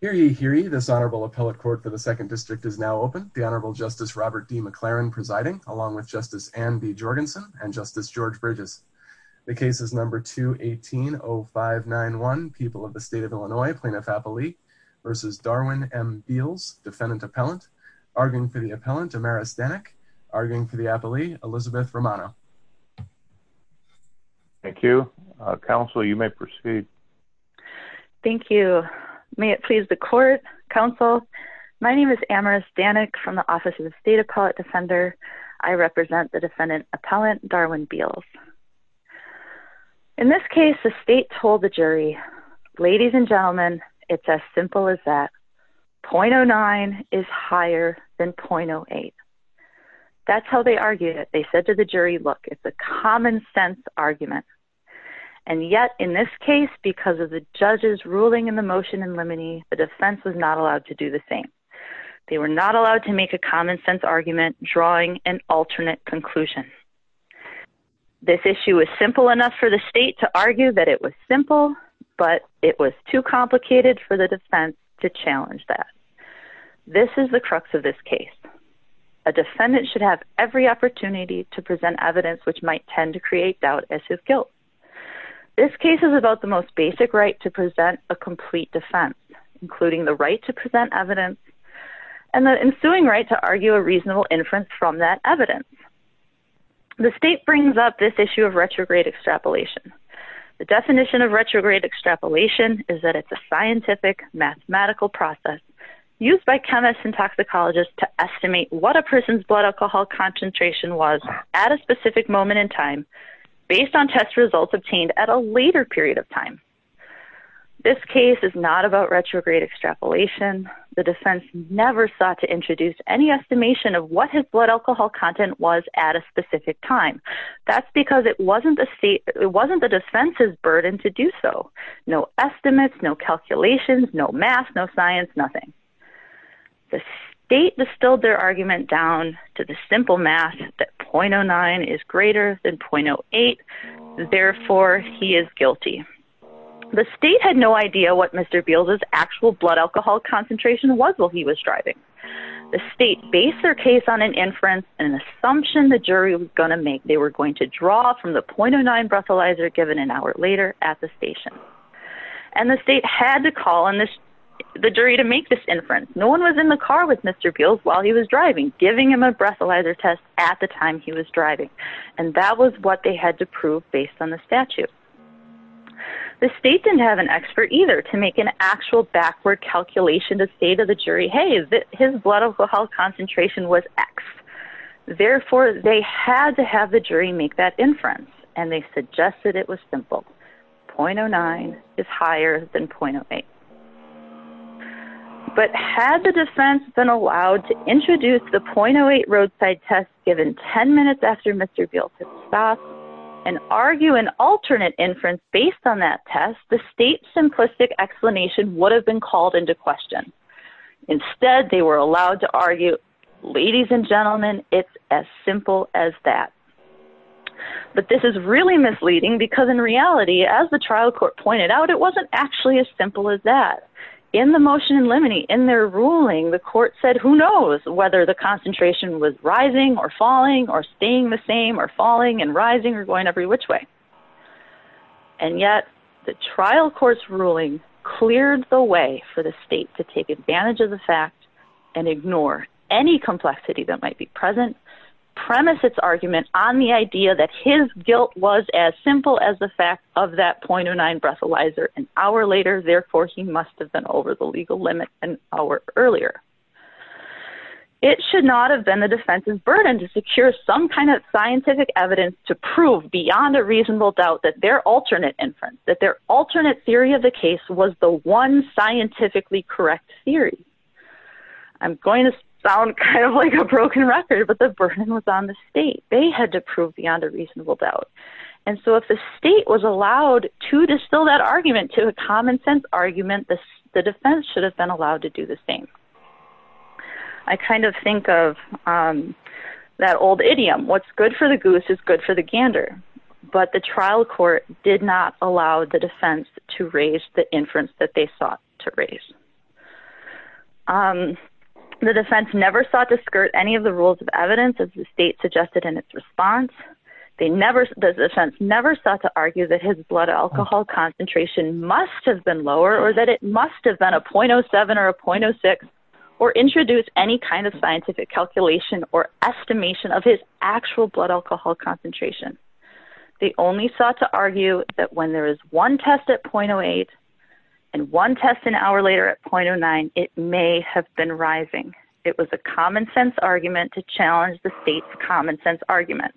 for the second district is now open. The Honorable Justice Robert D. McLaren presiding, along with Justice Anne B. Jorgensen and Justice George Bridges. The case is No. 2180591, People of the State of Illinois, Plaintiff-Appellee v. Darwin M. Beals, Defendant-Appellant. Arguing for the Appellant, Amaris Danek. Arguing for the Appellee, Elizabeth Romano. Thank you. Counsel, you may proceed. Thank you. May it please the Court, Counsel, my name is Amaris Danek from the Office of the State Appellate Defender. I represent the Defendant-Appellant, Darwin Beals. In this case, the State told the jury, ladies and gentlemen, it's as simple as that. .09 is higher than .08. That's how they argued it. They said to the jury, look, it's a common sense argument. And yet, in this case, because of the judge's ruling in the motion in limine, the defense was not allowed to do the same. They were not allowed to make a common sense argument, drawing an alternate conclusion. This issue was simple enough for the State to argue that it was simple, but it was too complicated for the defense to challenge that. This is the crux of this case. A defendant should have every opportunity to present evidence which might tend to create doubt as to guilt. This case is about the most basic right to present a complete defense, including the right to present evidence and the ensuing right to argue a reasonable inference from that evidence. The State brings up this issue of retrograde extrapolation. The definition of retrograde extrapolation is that it's a scientific mathematical process used by chemists and toxicologists to estimate what a person's blood alcohol concentration was at a specific moment in time based on test results obtained at a later period of time. This case is not about retrograde extrapolation. The defense never sought to introduce any estimation of what his blood alcohol content was at a specific time. That's because it wasn't the defense's The State distilled their argument down to the simple math that .09 is greater than .08, therefore he is guilty. The State had no idea what Mr. Beal's actual blood alcohol concentration was while he was driving. The State based their case on an inference, an assumption the jury was going to make. They were going to draw from the .09 breathalyzer given an No one was in the car with Mr. Beal while he was driving, giving him a breathalyzer test at the time he was driving. And that was what they had to prove based on the statute. The State didn't have an expert either to make an actual backward calculation to say to the jury, hey, his blood alcohol concentration was X. Therefore, they had to have the jury make that inference. And they suggested it was simple. .09 is higher than .08. But had the defense been allowed to introduce the .08 roadside test given 10 minutes after Mr. Beal had stopped and argue an alternate inference based on that test, the State's simplistic explanation would have been called into question. Instead, they were allowed to argue, ladies and gentlemen, it's as simple as that. But this is really misleading because in reality, as the trial court pointed out, it wasn't actually as simple as that. In the motion in limine, in their ruling, the court said who knows whether the concentration was rising or falling or staying the same or falling and rising or going every which way. And yet, the trial court's complexity that might be present, premise its argument on the idea that his guilt was as simple as the fact of that .09 breathalyzer an hour later. Therefore, he must have been over the legal limit an hour earlier. It should not have been the defense's burden to secure some kind of scientific evidence to prove beyond a reasonable doubt that their alternate inference, that their alternate theory of the case was the one scientifically correct theory. I'm going to sound kind of like a broken record, but the burden was on the State. They had to prove beyond a reasonable doubt. And so if the State was allowed to distill that argument to a common sense argument, the defense should have been allowed to do the same. I kind of think of that old idiom, what's good for the goose is good for the gander. But the trial court did not allow the defense to raise the inference that they sought to raise. The defense never sought to skirt any of the rules of evidence as the State suggested in its response. The defense never sought to argue that his blood alcohol concentration must have been lower or that it must have been a .07 or a .06 or introduce any kind of scientific calculation or estimation of his actual blood alcohol concentration. They only sought to argue that when there is one test at .08 and one test an hour later at .09, it may have been rising. It was a common sense argument to challenge the State's common sense argument.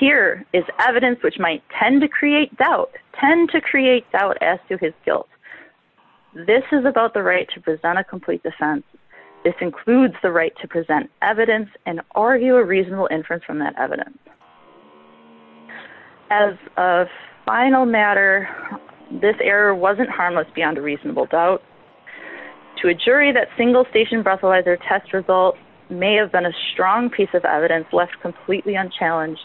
Here is evidence which might tend to create doubt, tend to create doubt as to his guilt. This is about the right to present a complete defense. This includes the right to present a complete defense. As a final matter, this error wasn't harmless beyond a reasonable doubt. To a jury that single station breathalyzer test result may have been a strong piece of evidence left completely unchallenged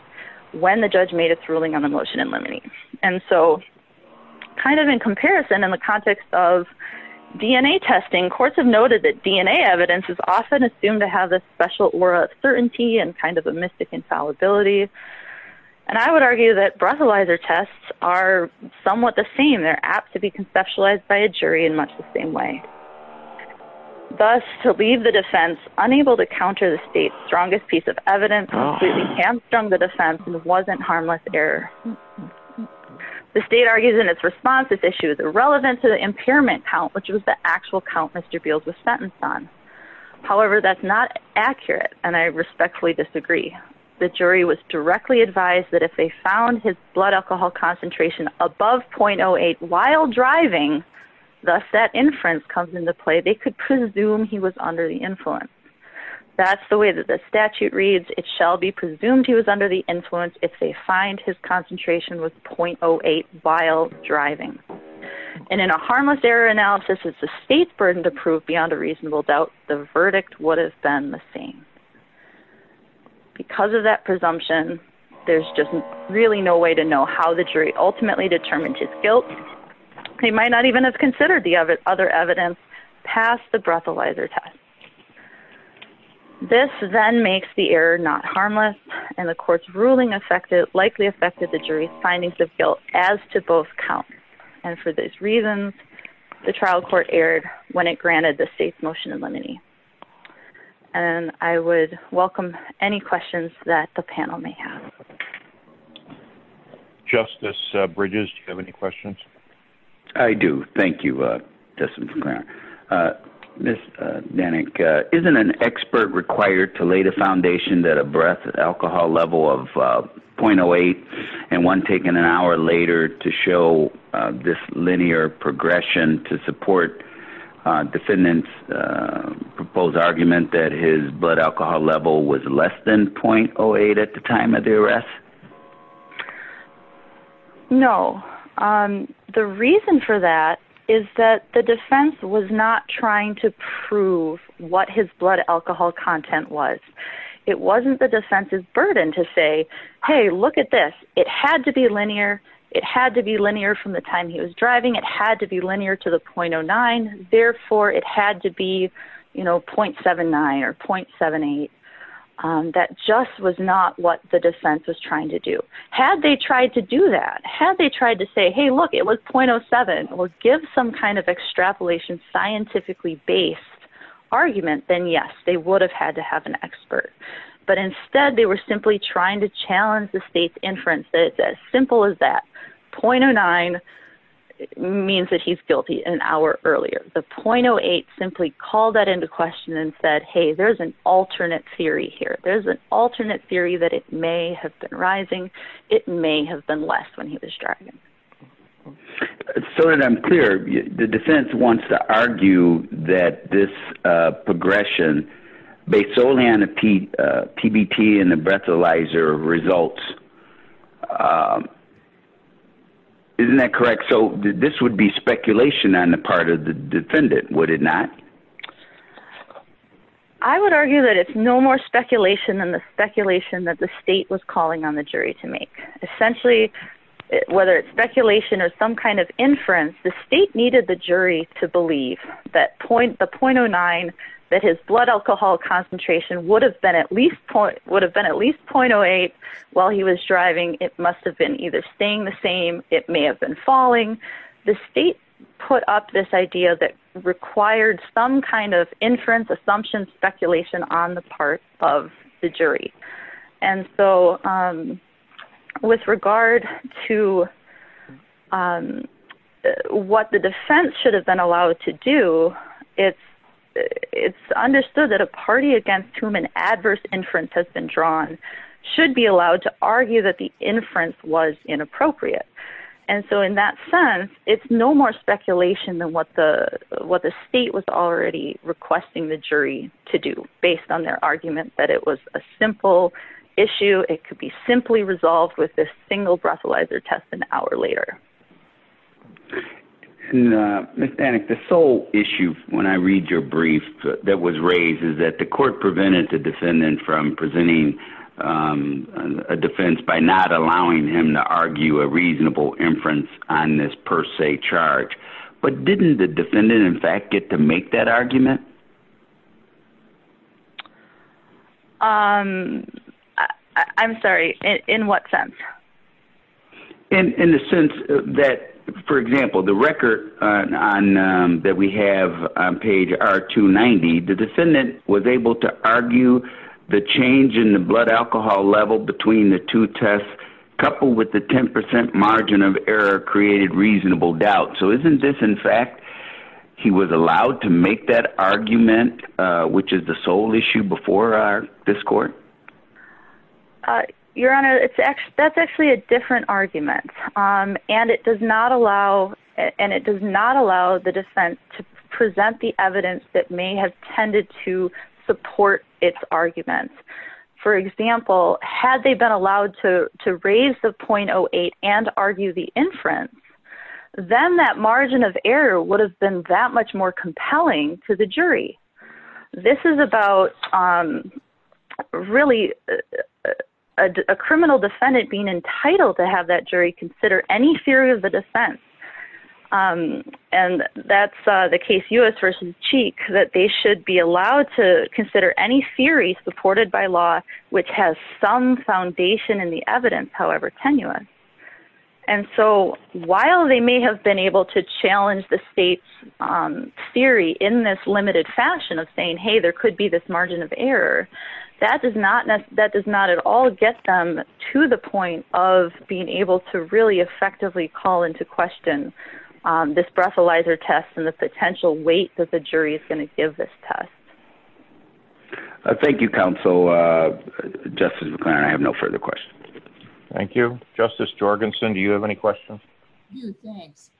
when the judge made its ruling on the motion in limine. And so kind of in comparison in the context of DNA testing, courts have noted that DNA evidence is often assumed to have this special aura of certainty and kind of a mystic infallibility. And I would argue that breathalyzer tests are somewhat the same. They're apt to be conceptualized by a jury in much the same way. Thus, to leave the defense unable to counter the State's strongest piece of evidence including hamstrung the defense wasn't harmless error. The State argues in its response this issue is irrelevant to the impairment count which was the actual count Mr. Beals was advised that if they found his blood alcohol concentration above .08 while driving, thus that inference comes into play, they could presume he was under the influence. That's the way that the statute reads, it shall be presumed he was under the influence if they find his concentration was .08 while driving. And in a harmless error analysis, it's the State's burden to prove beyond a reasonable doubt the verdict would have been the same. Because of that there's just really no way to know how the jury ultimately determined his guilt. They might not even have considered the other evidence past the breathalyzer test. This then makes the error not harmless and the court's ruling likely affected the jury's findings of guilt as to both counts. And for those reasons, the trial court erred when it granted the State's judgment. Justice Bridges, do you have any questions? I do. Thank you, Justice McClaren. Ms. Danik, isn't an expert required to lay the foundation that a breath alcohol level of .08 and one taken an hour later to show this linear progression to support defendant's proposed argument that his blood alcohol level was less than .08 at the time of the arrest? No. The reason for that is that the defense was not trying to prove what his blood alcohol content was. It wasn't the defense's burden to say, hey, look at this. It had to be linear. It had to be linear from the time he was driving. It had to be linear to the .09. Therefore, it had to be, .79 or .78. That just was not what the defense was trying to do. Had they tried to do that, had they tried to say, hey, look, it was .07, or give some kind of extrapolation, scientifically based argument, then yes, they would have had to have an expert. But instead, they were simply trying to challenge the State's inference that it's as simple as that. .09 means that he's guilty an hour earlier. The .08 simply called that into question and said, hey, there's an alternate theory here. There's an alternate theory that it may have been rising. It may have been less when he was driving. So that I'm clear, the defense wants to argue that this progression based solely on the isn't that correct? So this would be speculation on the part of the defendant, would it not? I would argue that it's no more speculation than the speculation that the State was calling on the jury to make. Essentially, whether it's speculation or some kind of inference, the State needed the jury to believe that the .09, that his blood alcohol concentration would have been at least .08 while he was driving. It must have been either staying the same it may have been falling. The State put up this idea that required some kind of inference, assumption, speculation on the part of the jury. And so with regard to what the defense should have been allowed to do, it's understood that a party against whom an adverse inference has been drawn should be allowed to argue that the inference was inappropriate. And so in that sense, it's no more speculation than what the State was already requesting the jury to do based on their argument that it was a simple issue. It could be simply resolved with this single breathalyzer test an hour later. And Ms. Danek, the sole issue when I read your brief that was raised is that the court prevented the defendant from presenting a defense by not allowing him to argue a reasonable inference on this per se charge. But didn't the defendant, in fact, get to make that argument? I'm sorry, in what sense? In the sense that, for example, the record that we have on page R290, the defendant was able to level between the two tests coupled with the 10% margin of error created reasonable doubt. So isn't this, in fact, he was allowed to make that argument, which is the sole issue before this court? Your Honor, that's actually a different argument. And it does not allow the defense to present the had they been allowed to raise the 0.08 and argue the inference, then that margin of error would have been that much more compelling to the jury. This is about really a criminal defendant being entitled to have that jury consider any theory of the defense. And that's the case U.S. versus Cheek, that they should be allowed to consider any theory supported by law, which has some foundation in the evidence, however tenuous. And so while they may have been able to challenge the state's theory in this limited fashion of saying, hey, there could be this margin of error, that does not at all get them to the point of being able to really effectively call into question this breathalyzer test and the potential weight that the jury is going to give this test. Thank you, counsel. Justice McClennan, I have no further questions. Thank you. Justice Jorgensen, do you have any questions? Thanks.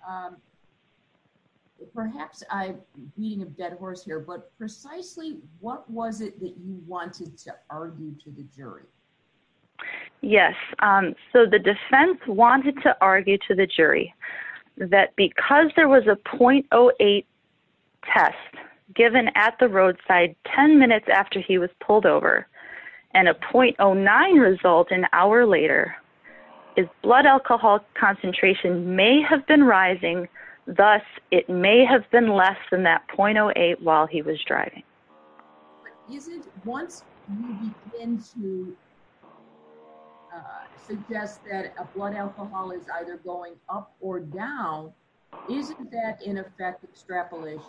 Perhaps I'm beating a dead horse here, but precisely what was it that you wanted to argue to the jury? Yes. So the defense wanted to argue to the jury that because there was a .08 test given at the roadside 10 minutes after he was pulled over and a .09 result an hour later, his blood alcohol concentration may have been rising, thus it may have been less than that .08 while he was driving. But once you begin to suggest that a blood alcohol is either going up or down, isn't that in effect extrapolation?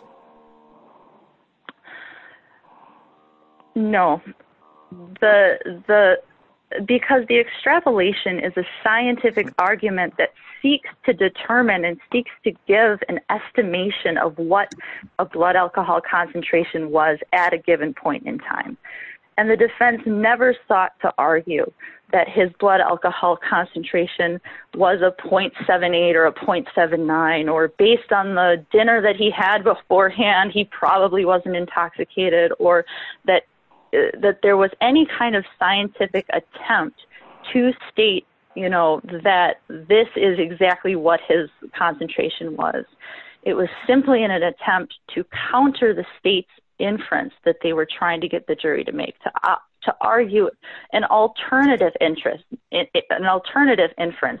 No. Because the extrapolation is a scientific and seeks to give an estimation of what a blood alcohol concentration was at a given point in time. And the defense never sought to argue that his blood alcohol concentration was a .78 or a .79 or based on the dinner that he had beforehand, he probably wasn't intoxicated or that there was any kind of scientific attempt to state that this is exactly what his concentration was. It was simply an attempt to counter the state's inference that they were trying to get the jury to make, to argue an alternative inference,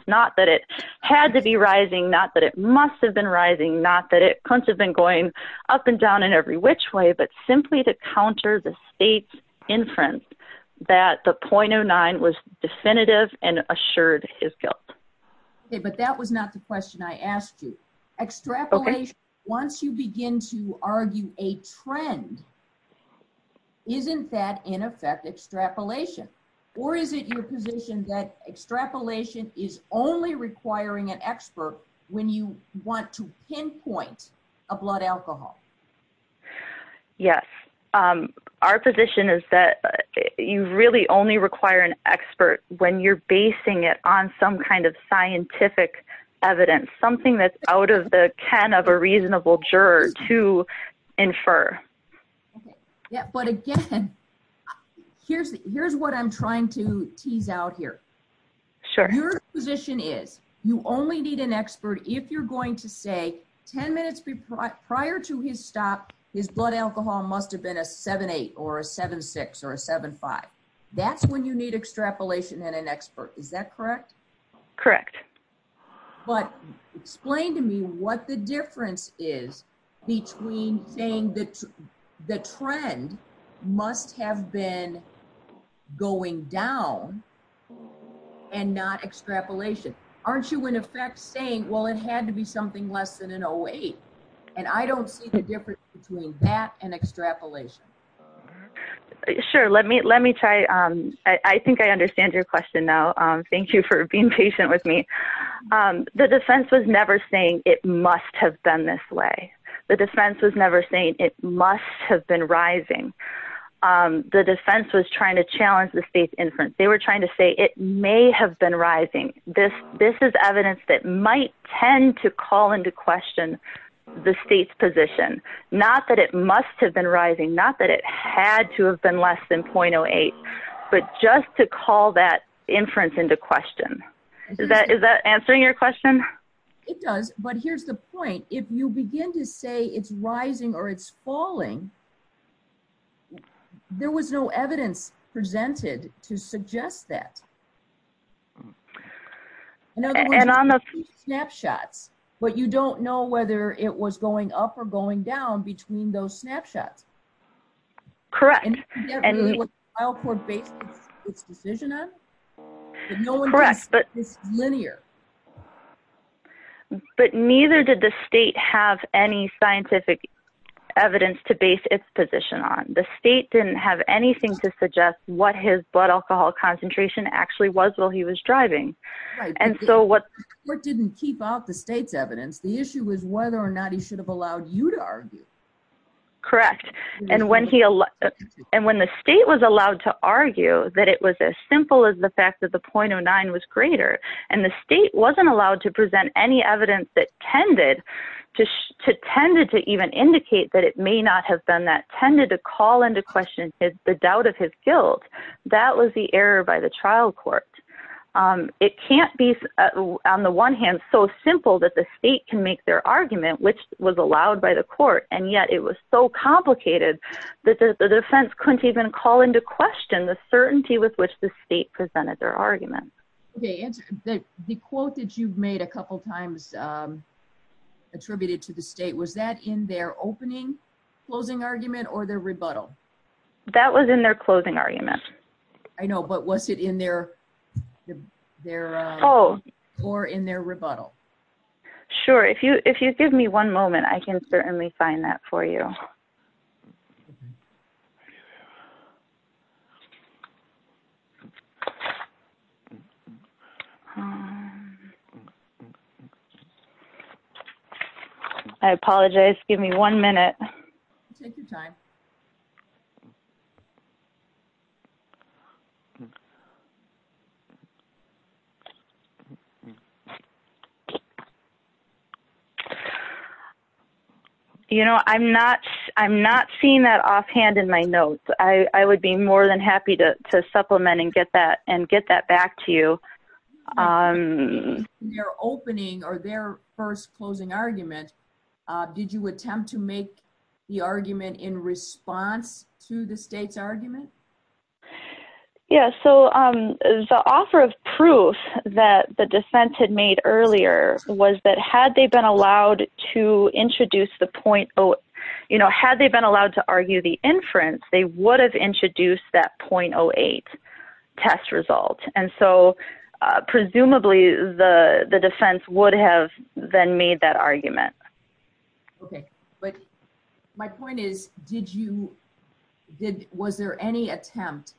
not that it had to be rising, not that it must have been rising, not that it couldn't have been going up and down in every which way, but simply to that the .09 was definitive and assured his guilt. Okay, but that was not the question I asked you. Extrapolation, once you begin to argue a trend, isn't that in effect extrapolation? Or is it your position that extrapolation is only requiring an expert when you want to pinpoint a blood alcohol? Yes. Our position is that you really only require an expert when you're basing it on some kind of scientific evidence, something that's out of the can of a reasonable juror to infer. Yeah, but again, here's what I'm trying to tease out here. Sure. Your position is you only need an expert if you're going to say 10 minutes prior to his stop, his blood alcohol must have been a 7.8 or a 7.6 or a 7.5. That's when you need extrapolation and an expert. Is that correct? Correct. But explain to me what the difference is between saying that the trend must have been going down and not extrapolation. Aren't you in effect saying, well, it had to be something less than an 0.8, and I don't see the difference between that and extrapolation. Sure. Let me try. I think I understand your question now. Thank you for being patient with me. The defense was never saying it must have been this way. The defense was never saying it must have been rising. The defense was trying to challenge the state's inference. They were trying to say it may have been rising. This is evidence that might tend to call into question the state's position, not that it must have been rising, not that it had to have been less than 0.08, but just to call that inference into question. Is that answering your question? It does, but here's the point. If you begin to say it's rising or it's falling, there was no evidence presented to suggest that. In other words, there were two snapshots, but you don't know whether it was going up or going down between those snapshots. Correct. And the trial court based its decision on it, but no one is linear. But neither did the state have any scientific evidence to base its position on. The state didn't have anything to suggest what his blood alcohol concentration actually was while he was driving. And so what... The court didn't keep out the state's evidence. The issue was whether or not he should have allowed you to argue. Correct. And when the state was allowed to argue that it was as simple as the fact that the 0.09 was greater, and the state wasn't allowed to present any evidence that tended to even indicate that it may not have been that, tended to call into question the doubt of his guilt, that was the error by the trial court. It can't be on the one hand so simple that the state can make their argument, which was allowed by the court, and yet it was so complicated that the defense couldn't even call into question the certainty with which the state presented their argument. Okay, answer. The quote that you've made a couple times attributed to the state, was that in their opening closing argument or their rebuttal? That was in their closing argument. I know, but was it in their... or in their rebuttal? Sure, if you give me one moment I can certainly find that for you. I apologize, give me one minute. Take your time. Okay. You know, I'm not seeing that offhand in my notes. I would be more than happy to supplement and get that back to you. In their opening or their first closing argument, did you attempt to make the argument in response to the state's argument? Yeah, so the offer of proof that the defense had made earlier was that had they been allowed to introduce the .08, you know, had they been allowed to argue the inference, they would have introduced that .08 test result. And so presumably the defense would have then made that argument. Okay, but my point is, did you, was there any attempt,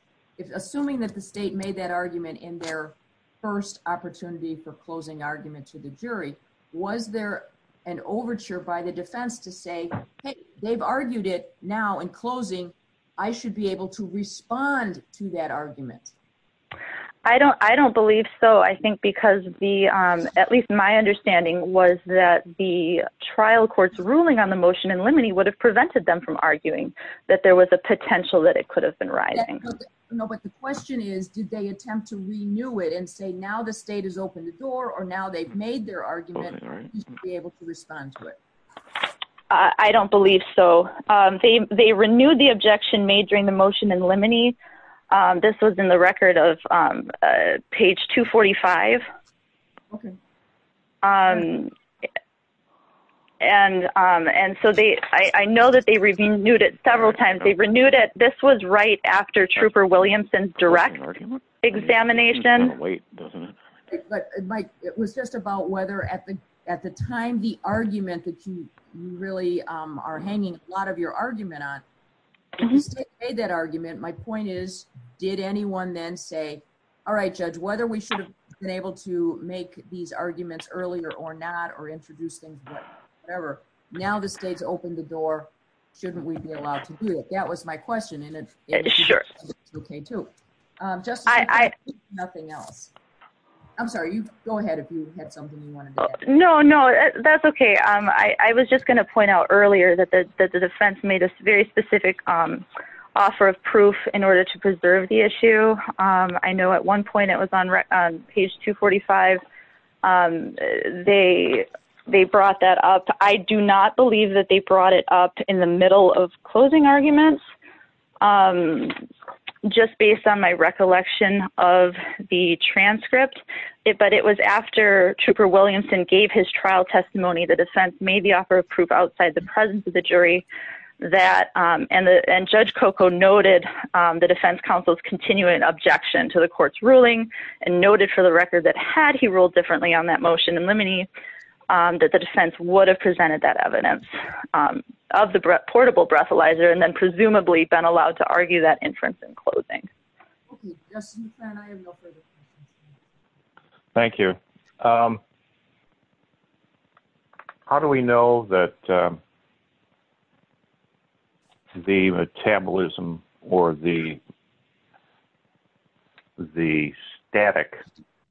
assuming that the state made that argument in their first opportunity for closing argument to the jury, was there an overture by the defense to say, hey, they've argued it now in closing, I should be able to respond to that trial court's ruling on the motion in limine, would have prevented them from arguing that there was a potential that it could have been rising? No, but the question is, did they attempt to renew it and say, now the state has opened the door, or now they've made their argument, you should be able to respond to it. I don't believe so. They renewed the objection made during the motion in limine. This was in the record of page 245. And so they, I know that they renewed it several times. They renewed it, this was right after Trooper Williamson's direct examination. But Mike, it was just about whether at the time the argument that you really are hanging a lot your argument on, the state made that argument, my point is, did anyone then say, all right, Judge, whether we should have been able to make these arguments earlier or not or introduce things, whatever, now the state's opened the door, shouldn't we be allowed to do it? That was my question. And it's okay, too. I'm sorry, go ahead if you had something you wanted to add. No, no, that's okay. I was just going to point out earlier that the defense made a very specific offer of proof in order to preserve the issue. I know at one point it was on page 245. They brought that up. I do not believe that they brought it up in the middle of closing arguments, just based on my recollection of the transcript. But it was after Trooper Williamson gave his trial testimony, the defense made the offer of proof outside the presence of the jury that, and Judge Coco noted the defense counsel's continuing objection to the court's ruling and noted for the record that had he ruled differently on that motion in limine that the defense would have presented that evidence of the portable breathalyzer, and then presumably been allowed to argue that inference in closing. Thank you. How do we know that the metabolism or the static,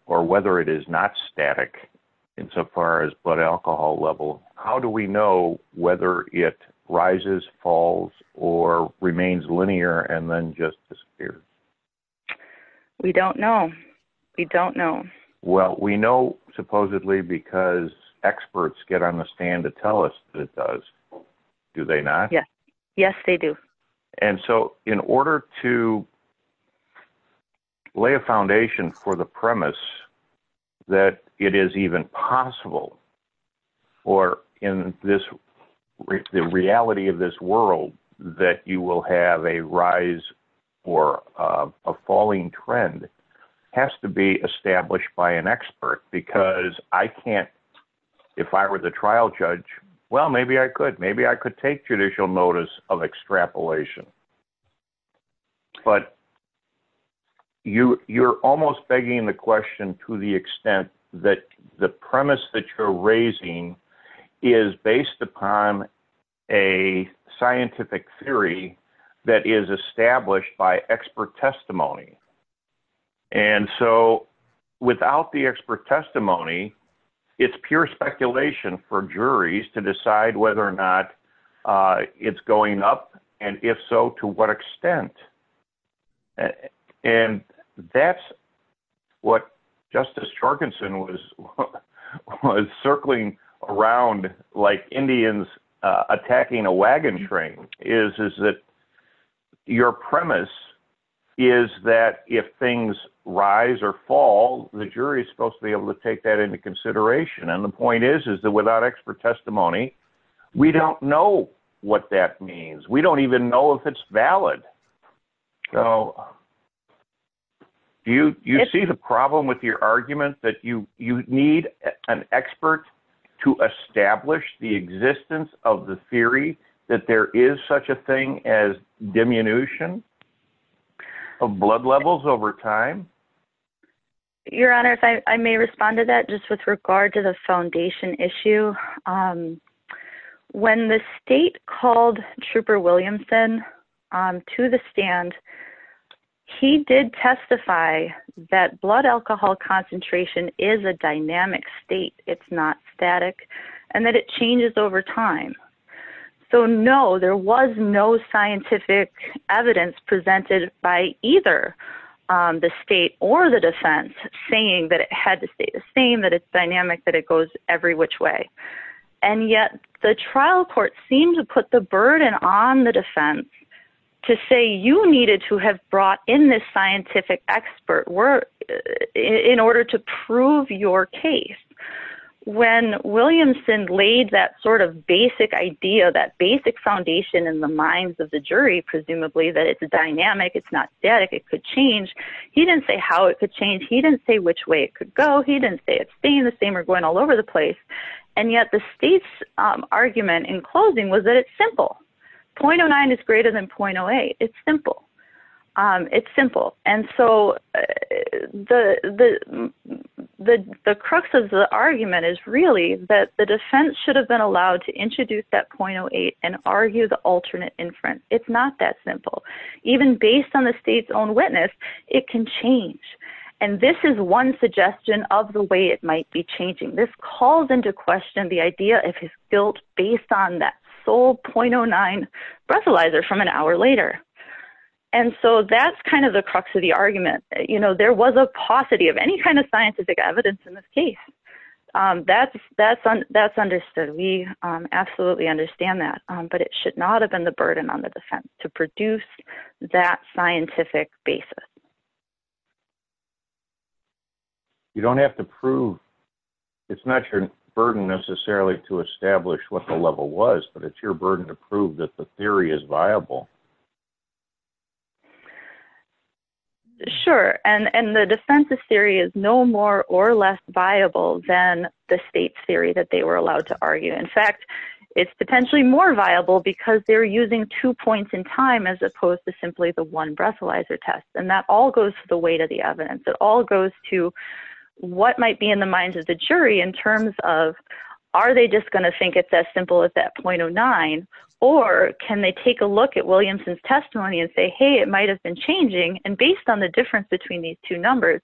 or whether it is not static insofar as blood alcohol level, how do we know whether it rises, falls, or remains linear and then just disappears? We don't know. We don't know. We know supposedly because experts get on the stand to tell us that it does. Do they not? Yes. Yes, they do. In order to lay a foundation for the premise that it is even possible, or in the reality of this world, that you will have a rise or a falling trend, has to be established by an expert because I can't, if I were the trial judge, well, I can't tell you how much of that is speculation. But you're almost begging the question to the extent that the premise that you're raising is based upon a scientific theory that is established by expert testimony. And so without the expert testimony, it's pure speculation for so to what extent. And that's what Justice Jorgensen was circling around like Indians attacking a wagon train, is that your premise is that if things rise or fall, the jury is supposed to be able to take that into consideration. And the point is, is that without expert testimony, we don't know what that means. We don't even know if it's valid. So do you see the problem with your argument that you need an expert to establish the existence of the theory that there is such a thing as diminution of blood levels over time? Your Honor, if I may respond to that, just with regard to the foundation issue. When the state called Trooper Williamson to the stand, he did testify that blood alcohol concentration is a dynamic state, it's not static, and that it changes over time. So no, there was no scientific evidence presented by either the state or the defense saying that it had to stay the same, that it's dynamic, that it goes every which way. And yet the trial court seemed to put the burden on the defense to say you needed to have brought in this scientific expert in order to prove your case. When Williamson laid that sort of basic idea, that basic foundation in the minds of the jury, presumably that it's a dynamic, it's not static, it could change. He didn't say how it could change. He didn't say which way it could go. He didn't say it's staying the same or going all over the place. And yet the state's argument in closing was that it's the crux of the argument is really that the defense should have been allowed to introduce that .08 and argue the alternate inference. It's not that simple. Even based on the state's own witness, it can change. And this is one suggestion of the way it might be changing. This calls into question the idea if it's built based on that sole .09 breathalyzer from an hour later. And so that's kind of the crux of the argument. There was a paucity of any kind of scientific evidence in this case. That's understood. We absolutely understand that. But it should not have been the burden on the defense to produce that scientific basis. You don't have to prove. It's not your burden necessarily to establish what the level was, but it's your burden to prove that the theory is viable. Sure. And the defense's theory is no more or less viable than the state's theory that they were allowed to argue. In fact, it's potentially more viable because they're using two points in time as opposed to simply the one breathalyzer test. And that all goes to the weight of the evidence. It all goes to what might be in the minds of the jury in terms of are they just going to think it's as simple as that .09, or can they take a look at Williamson's testimony and say, hey, it might have been changing. And based on the difference between these two numbers,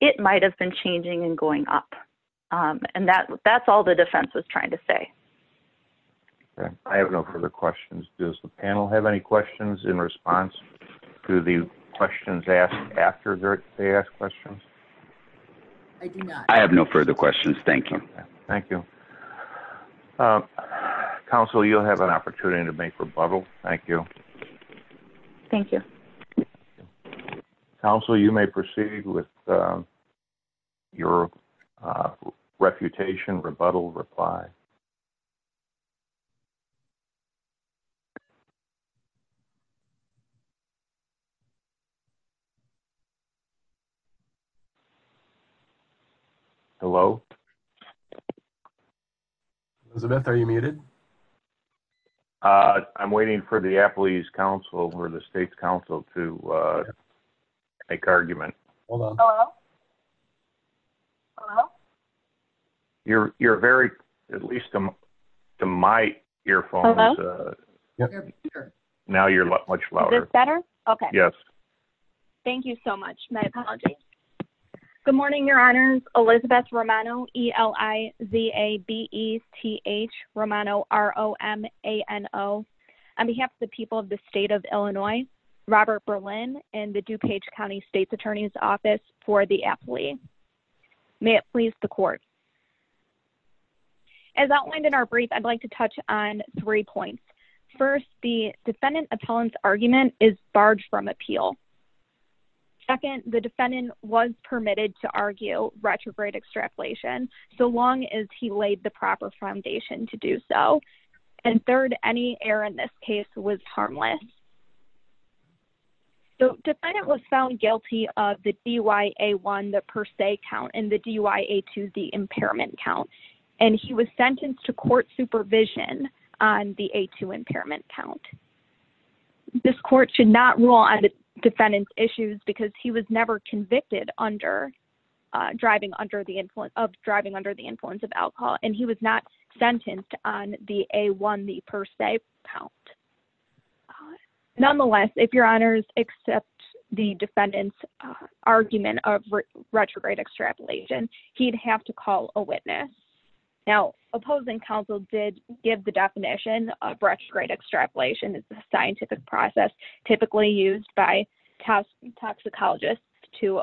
it might have been changing and going up. And that's all the defense was trying to say. I have no further questions. Does the panel have any questions in response to the questions asked after they ask questions? I do not. I have no further questions. Thank you. Thank you. Counsel, you'll have an opportunity to make rebuttal. Thank you. Thank you. Counsel, you may proceed with your refutation, rebuttal, reply. Hello? Elizabeth, are you muted? I'm waiting for the Appalachian Council or the State's Council to make argument. Hello? Hello? You're very, at least to my earphones. Now you're much louder. Thank you so much. My apologies. Good morning, Your Honors. Elizabeth Romano, E-L-I-Z-A-B-E-T-H, Romano, R-O-M-A-N-O. On behalf of the people of the state of Illinois, Robert Berlin, and the DuPage County State's Attorney's Office for the appellee. May it please the court. As outlined in our brief, I'd like to touch on three points. First, the defendant appellant's argument is barred from appeal. Second, the defendant was permitted to argue retrograde extrapolation so long as he laid the proper foundation to do so. And third, any error in this case was harmless. The defendant was found guilty of the D-Y-A-1, the per se count, and the D-Y-A-2, the impairment count. And he was sentenced to court supervision on the A-2 impairment count. This court should not rule on the defendant's issues because he was never convicted of driving under the influence of alcohol. And he was not sentenced on the A-1, the per se count. Nonetheless, if your honors accept the defendant's argument of retrograde extrapolation, he'd have to call a witness. Now, opposing counsel did give the definition of retrograde extrapolation. It's a scientific process typically used by toxicologists to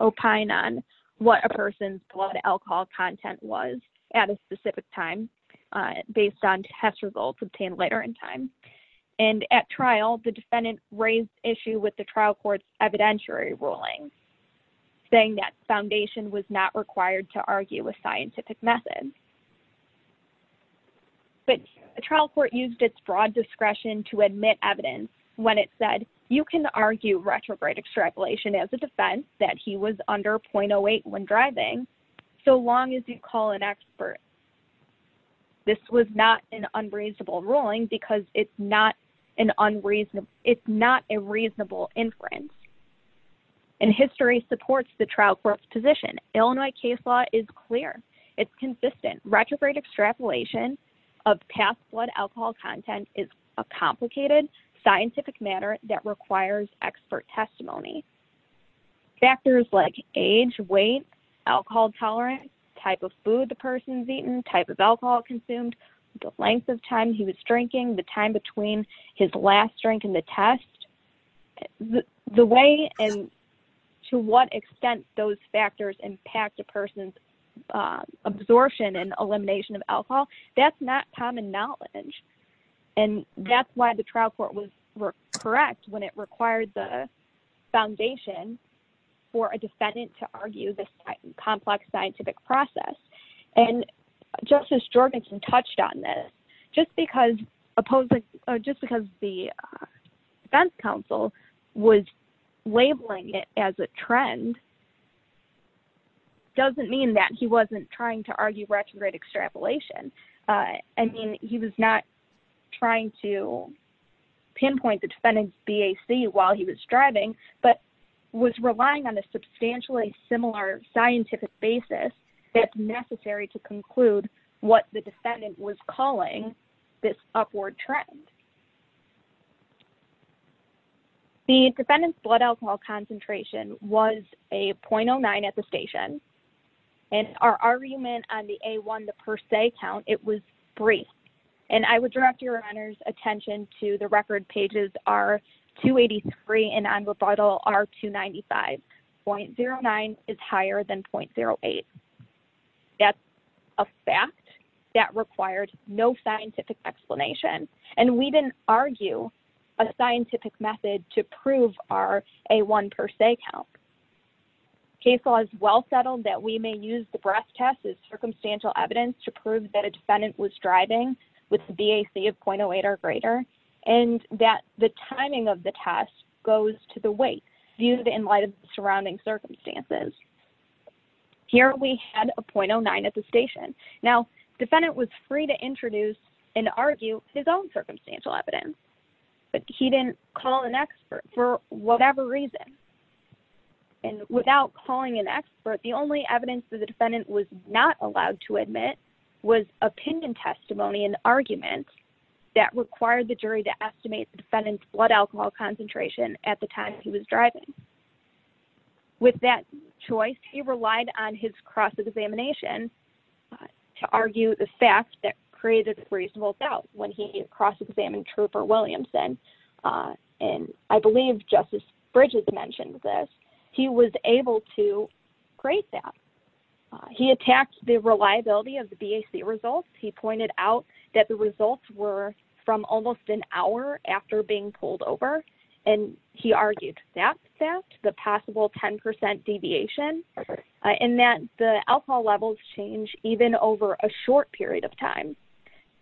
opine on what a person's blood alcohol content was at a specific time based on test results obtained later in time. And at trial, the defendant raised issue with the trial court's evidentiary ruling, saying that foundation was not required to argue a scientific method. But the trial court used its broad discretion to admit evidence when it said, you can argue retrograde extrapolation as a defense that he was under 0.08 when driving, so long as you call an expert. This was not an unreasonable ruling because it's not a reasonable inference. And history supports the trial court's position. Illinois case law is clear. It's consistent. Retrograde extrapolation of past blood alcohol content is a complicated scientific matter that requires expert testimony. Factors like age, weight, alcohol tolerance, type of food the person's eaten, type of alcohol consumed, the length of time he was drinking, the time between his last drink and the test, the way and to what extent those factors impact a person's absorption and elimination of alcohol, that's not common knowledge. And that's why the trial court was correct when it required the foundation for a defendant to argue this complex scientific process. And Justice Jorgensen touched on this. Just because the defense counsel was labeling it as a trend doesn't mean that he wasn't trying to argue retrograde extrapolation. I mean, he was not trying to pinpoint the defendant's BAC while he was driving, but was relying on a substantially similar scientific basis that's necessary to conclude what the defendant was calling this upward trend. The defendant's blood alcohol concentration was a .09 at the station. And our argument on the A1 the per se count, it was three. And I would direct your attention to the record pages are 283 and on rebuttal are 295. .09 is higher than .08. That's a fact that required no scientific explanation. And we didn't argue a scientific method to prove our A1 per se count. Case law is well settled that we may use the breast test as circumstantial evidence to prove that a defendant was driving with the BAC of .08 or greater and that the timing of the test goes to the weight viewed in light of the surrounding circumstances. Here we had a .09 at the station. Now, defendant was free to introduce and argue his own circumstantial evidence, but he didn't call an expert for whatever reason. And without calling an expert, the only evidence that the defendant was not allowed to admit was opinion testimony and arguments that required the jury to estimate the defendant's blood alcohol concentration at the time he was driving. With that choice, he relied on his cross-examination to argue the fact that created reasonable doubt. When he cross-examined Trooper Williamson, and I believe Justice Bridges mentioned this, he was able to create that. He attacked the reliability of the BAC results. He pointed out that the results were from almost an hour after being pulled over. And he argued that fact, the possible 10% deviation, and that the alcohol levels change even over a short period of time.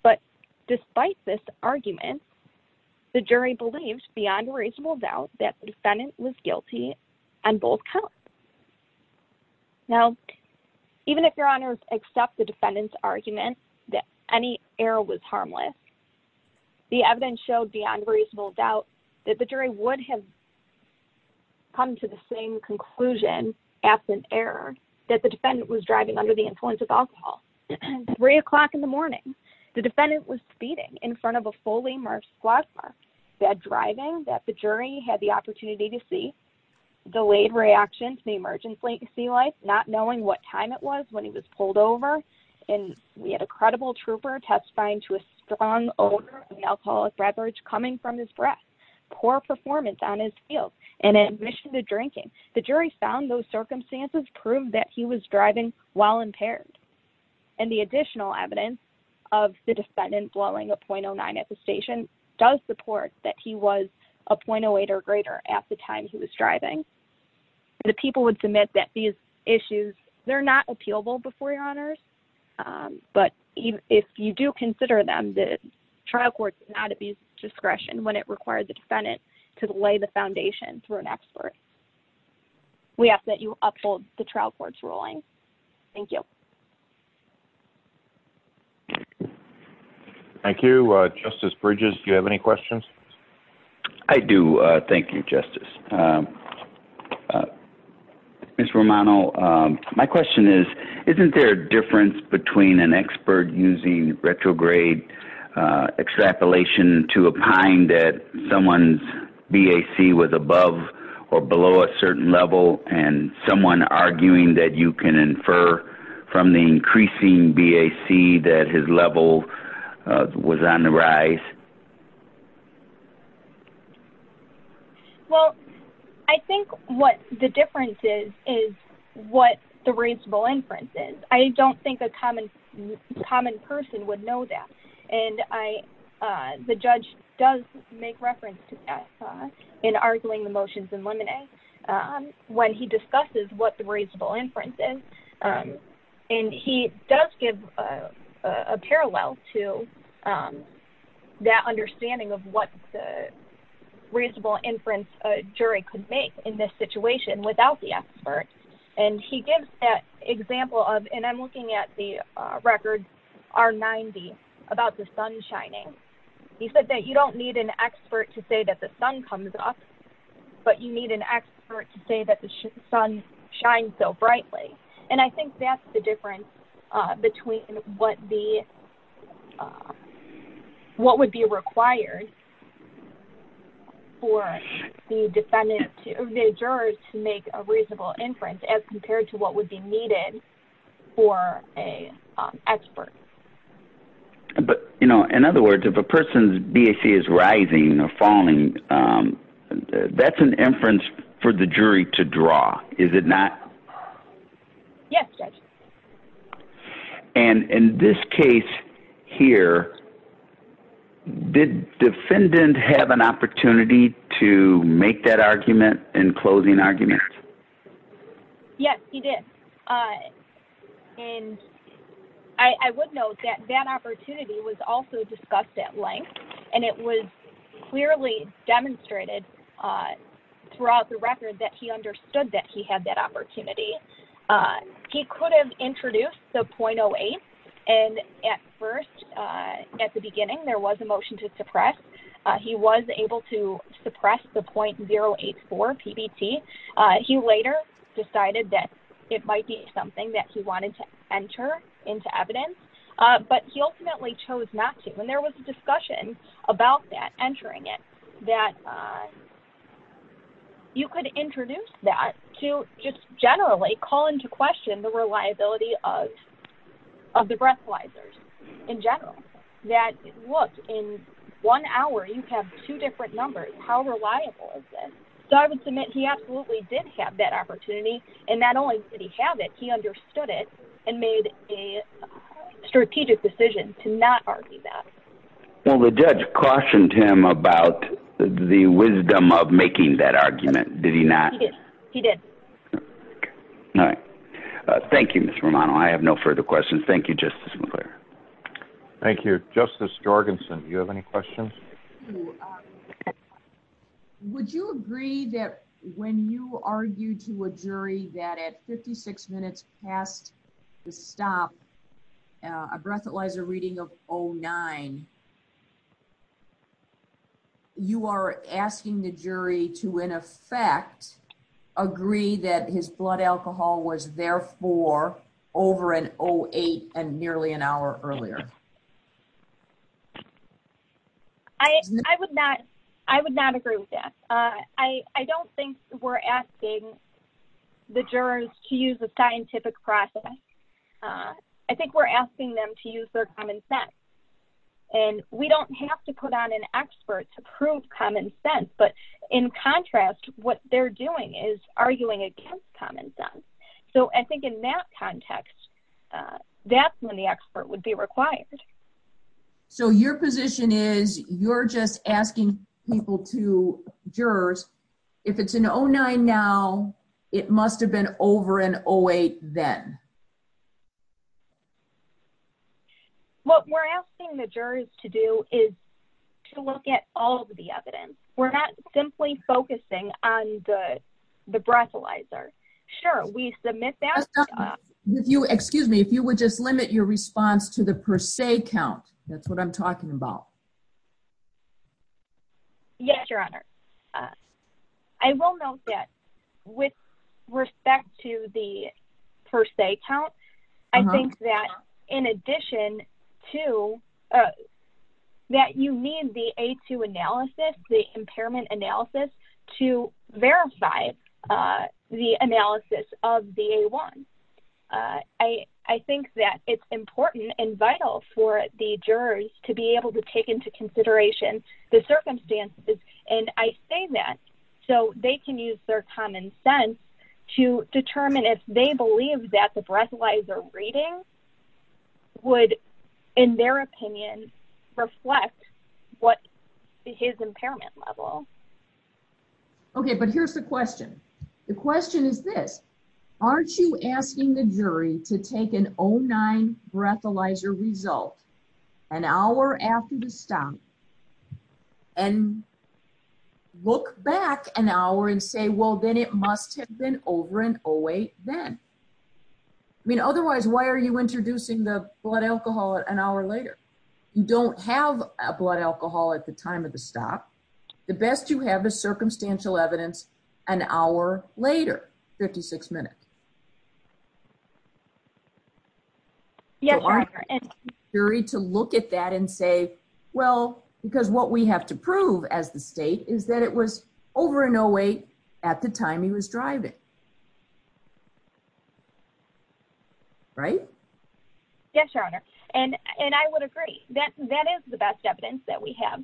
But despite this argument, the jury believed beyond reasonable doubt that the defendant was guilty on both counts. Now, even if your honors accept the defendant's argument that any error was harmless, the evidence showed beyond reasonable doubt that the jury would have come to the same conclusion, absent error, that the defendant was under the influence of alcohol. Three o'clock in the morning, the defendant was speeding in front of a fully merged squad car, bad driving, that the jury had the opportunity to see, delayed reaction to the emergency light, not knowing what time it was when he was pulled over. And we had a credible trooper testifying to a strong odor of alcoholic beverage coming from his breath, poor performance on his field, and admission to drinking. The jury found those while impaired. And the additional evidence of the defendant blowing a .09 at the station does support that he was a .08 or greater at the time he was driving. The people would submit that these issues, they're not appealable before your honors. But if you do consider them, the trial court did not abuse discretion when it required the defendant to lay the foundation through an expert. We ask that you uphold the trial court's ruling. Thank you. Thank you. Justice Bridges, do you have any questions? I do. Thank you, Justice. Ms. Romano, my question is, isn't there a difference between an expert using retrograde extrapolation to opine that someone's BAC was above or below a certain level, and someone arguing that you can infer from the increasing BAC that his level was on the rise? Well, I think what the difference is, is what the reasonable inference is. I don't think a common person would know that. And I, the judge does make reference to that in arguing the motions in Lemonet when he discusses what the reasonable inference is. And he does give a parallel to that understanding of what the reasonable inference a jury could make in this situation without the expert. And he gives that example of, and I'm looking at the records, R90, about the sun shining. He said that you don't need an expert to say that the sun comes up, but you need an expert to say that the sun shines so brightly. And I think that's the difference between what the, what would be required for the defendant, the jurors to make a reasonable inference as compared to what would be needed for an expert. But, you know, in other words, if a person's BAC is rising or falling, that's an inference for the jury to draw, is it not? Yes, Judge. And in this case here, did defendant have an opportunity to make that argument in closing arguments? Yes, he did. And I would note that that opportunity was also discussed at length, and it was clearly demonstrated throughout the record that he understood that he had that opportunity. He could have introduced the .08, and at first, at the beginning, there was a motion to suppress. He was able to suppress the .084 PBT. He later decided that it might be something that he wanted to enter into evidence, but he ultimately chose not to. And there was a discussion about that, entering it, that you could introduce that to just generally call into question the one hour. You have two different numbers. How reliable is this? So I would submit he absolutely did have that opportunity, and not only did he have it, he understood it and made a strategic decision to not argue that. Well, the judge cautioned him about the wisdom of making that argument, did he not? He did. All right. Thank you, Ms. Romano. I have no further questions. Thank you, Justice McClure. Thank you. Justice Jorgensen, do you have any questions? Would you agree that when you argue to a jury that at 56 minutes past the stop, a breathalyzer reading of .09, you are asking the jury to, in effect, agree that his blood alcohol was therefore over an .08 and nearly an hour earlier? I would not agree with that. I don't think we're asking the jurors to use a scientific process. I think we're asking them to use their common sense. And we don't have to put on an expert to prove common sense. But in contrast, what they're doing is arguing against common sense. So I think in that context, that's when the expert would be required. So your position is you're just asking people to, jurors, if it's an .09 now, it must have been over an .08 then? What we're asking the jurors to do is to look at all of the evidence. We're not simply focusing on the breathalyzer. Sure, we submit that. Excuse me. If you would just limit your response to the per se count. That's what I'm talking about. Yes, Your Honor. I will note that with respect to the per se count, I think that in addition to that, you need the A2 analysis, the impairment analysis to verify the analysis of the A1. I think that it's important and vital for the jurors to be able to take into consideration the circumstances. And I say that so they can use their common sense to determine if they believe that the breathalyzer reading would, in their opinion, reflect his impairment level. Okay, but here's the question. The question is this. Aren't you asking the jury to take an .09 breathalyzer result an hour after the stomp and look back an hour and say, well, then it must have been over an .08 then. I mean, otherwise, why are you introducing the blood alcohol an hour later? You don't have a blood alcohol at the time of the stop. The best you have is circumstantial evidence an hour later, 56 minutes. Yes, Your Honor. Do you want the jury to look at that and say, well, because what we have to prove as the state is that it was over an .08 at the time he was driving, right? Yes, Your Honor. And I would agree that that is the best evidence that we have.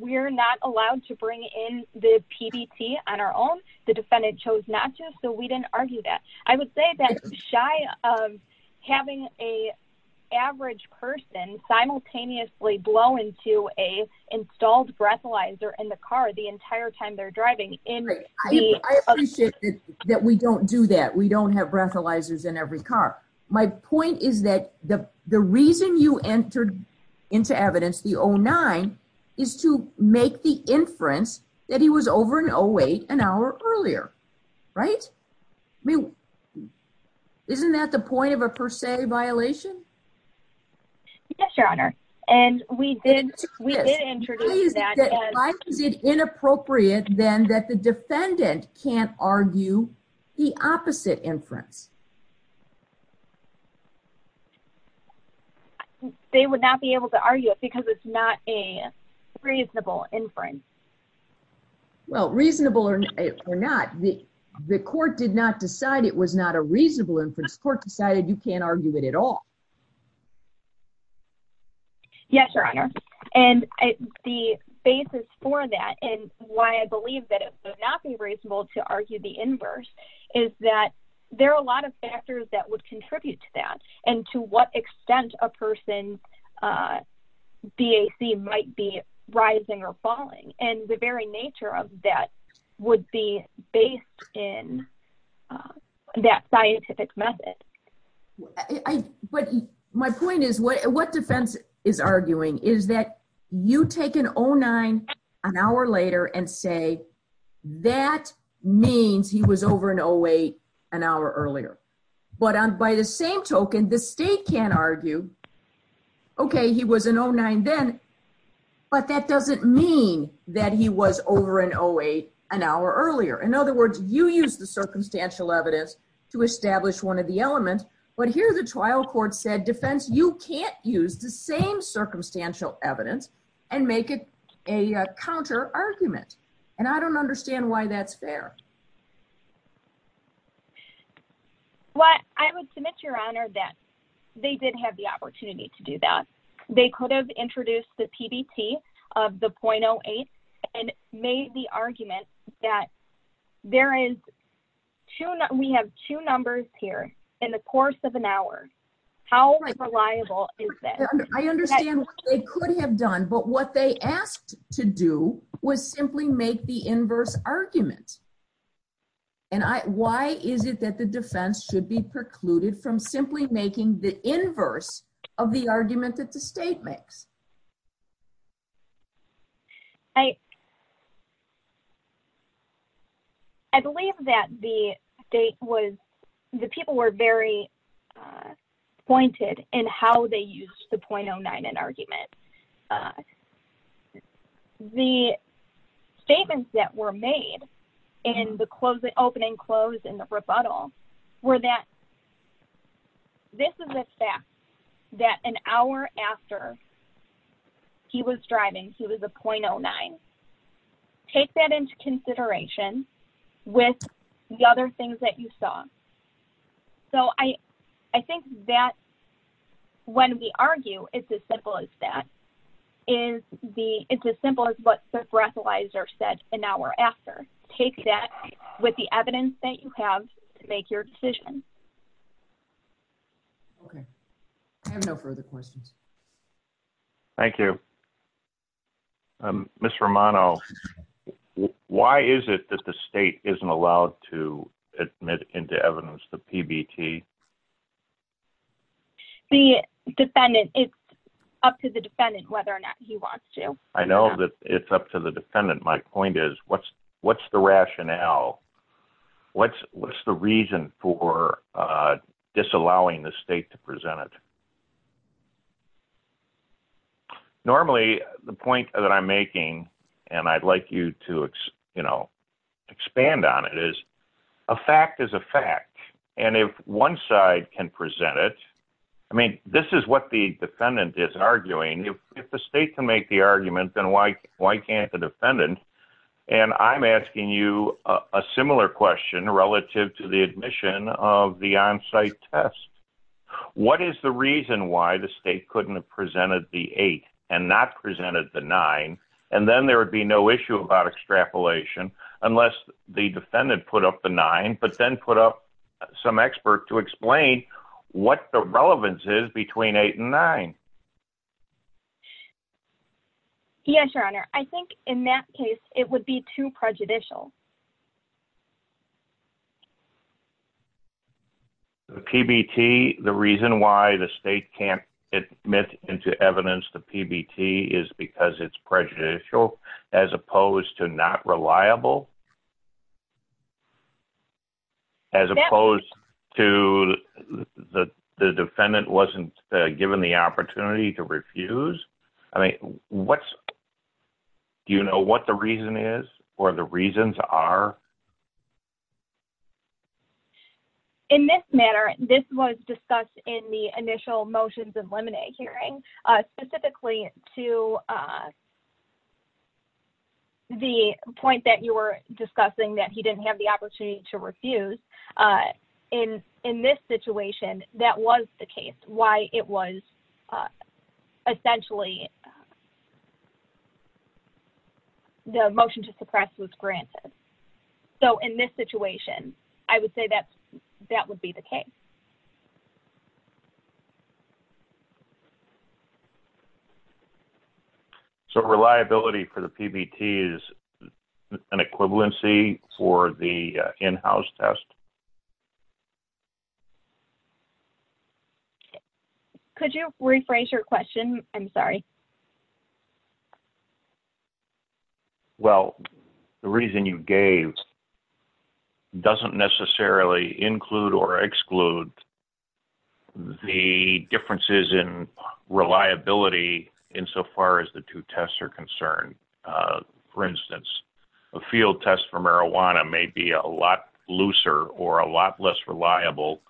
We're not allowed to bring in the PDT on our own. The defendant chose not to, so we didn't argue that. I would say that shy of having an average person simultaneously blow into a installed breathalyzer in the car the entire time they're driving. I appreciate that we don't do that. We don't have breathalyzers in every car. My point is that the reason you entered into evidence the .09 is to make the inference that he was over an .08 an hour earlier, right? I mean, isn't that the point of a per se violation? Yes, Your Honor. And we did introduce that. Why is it inappropriate then that the defendant can't argue the opposite inference? They would not be able to argue it because it's not a reasonable inference. Well, reasonable or not, the court did not decide it was not a reasonable inference. Court decided you can't argue it at all. Yes, Your Honor. And the basis for that and why I believe that it would not be reasonable to argue the inverse is that there are a lot of factors that would contribute to that and to what extent a person's BAC might be rising or falling. And the very nature of that would be based in that scientific method. But my point is what defense is arguing is that you take an .09 an hour later and say that means he was over an .08 an hour earlier. But by the same token, the state can't argue, okay, he was an .09 then, but that doesn't mean that he was over an .08 an hour earlier. In other words, you use the circumstantial evidence to establish one of the elements. But here the trial court said defense, you can't use the same circumstantial evidence and make it a counter argument. And I don't understand why that's fair. Well, I would submit, Your Honor, that they did have the opportunity to do that. They could have introduced the PBT of the .08 and made the argument that there is two, we have two numbers here in the course of an hour. How reliable is that? I understand what they could have done, but what they asked to do was simply make the inverse argument. And why is it that the defense should be precluded from simply making the inverse of the argument that the state makes? I believe that the people were very pointed in how they used the .09 in argument. The statements that were made in the opening close in the rebuttal were that this is a fact that an hour after he was driving, he was a .09. Take that into consideration with the other things that you saw. So I think that when we argue, it's as simple as that. It's as simple as what the breathalyzer said an hour after. Take that with the evidence that you have to make your decision. Okay. I have no further questions. Thank you. Ms. Romano, why is it that the state isn't allowed to admit into evidence the PBT? The defendant, it's up to the defendant whether or not he wants to. I know that it's up to the defendant. My point is, what's the rationale? What's the reason for disallowing the state to present it? Normally, the point that I'm making, and I'd like you to expand on it, is a fact is a fact. And if one side can present it, I mean, this is what the defendant is arguing. If the state can make the argument, then why can't the defendant? And I'm asking you a similar question relative to the admission of the on-site test. What is the reason why the state couldn't have presented the eight and not presented the nine? And then there would be no issue about extrapolation unless the defendant put up the nine, but then put up some expert to explain what the relevance is between eight and nine. Yes, your honor. I think in that case it would be too prejudicial. The PBT, the reason why the state can't admit into evidence the PBT is because it's prejudicial as opposed to not reliable? As opposed to the defendant wasn't given the opportunity to refuse? Do you know what the reason is or the reasons are? In this matter, this was discussed in the initial motions and lemonade hearing, specifically to the point that you were discussing that he didn't have the opportunity to refuse. In this situation, that was the case, why it was essentially the motion to suppress was granted. So in this situation, I would say that that would be the case. So reliability for the PBT is an equivalency for the in-house test? Could you rephrase your question? I'm sorry. Well, the reason you gave doesn't necessarily include or exclude the differences in reliability insofar as the two tests are concerned. For instance, a field test for marijuana may be a lot looser or a lot less reliable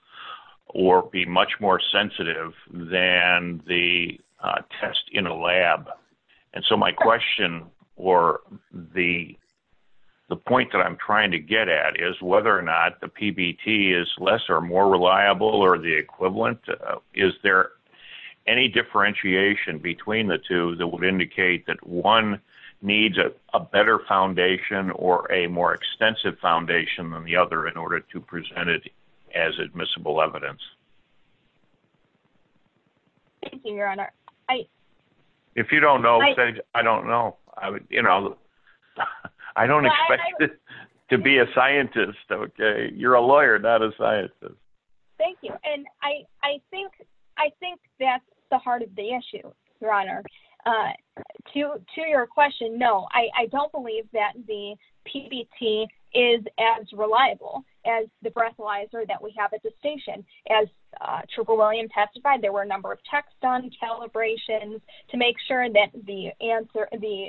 or be much more sensitive than the test in a lab. And so my question or the point that I'm trying to get at is whether or not the PBT is less or more reliable or the equivalent. Is there any differentiation between the two that would indicate that one needs a better foundation or a more extensive foundation than the other in as admissible evidence? Thank you, Your Honor. If you don't know, I don't know. I don't expect you to be a scientist. You're a lawyer, not a scientist. Thank you. And I think that's the heart of the issue, Your Honor. To your that we have a distinction. As Triple William testified, there were a number of texts on calibrations to make sure that the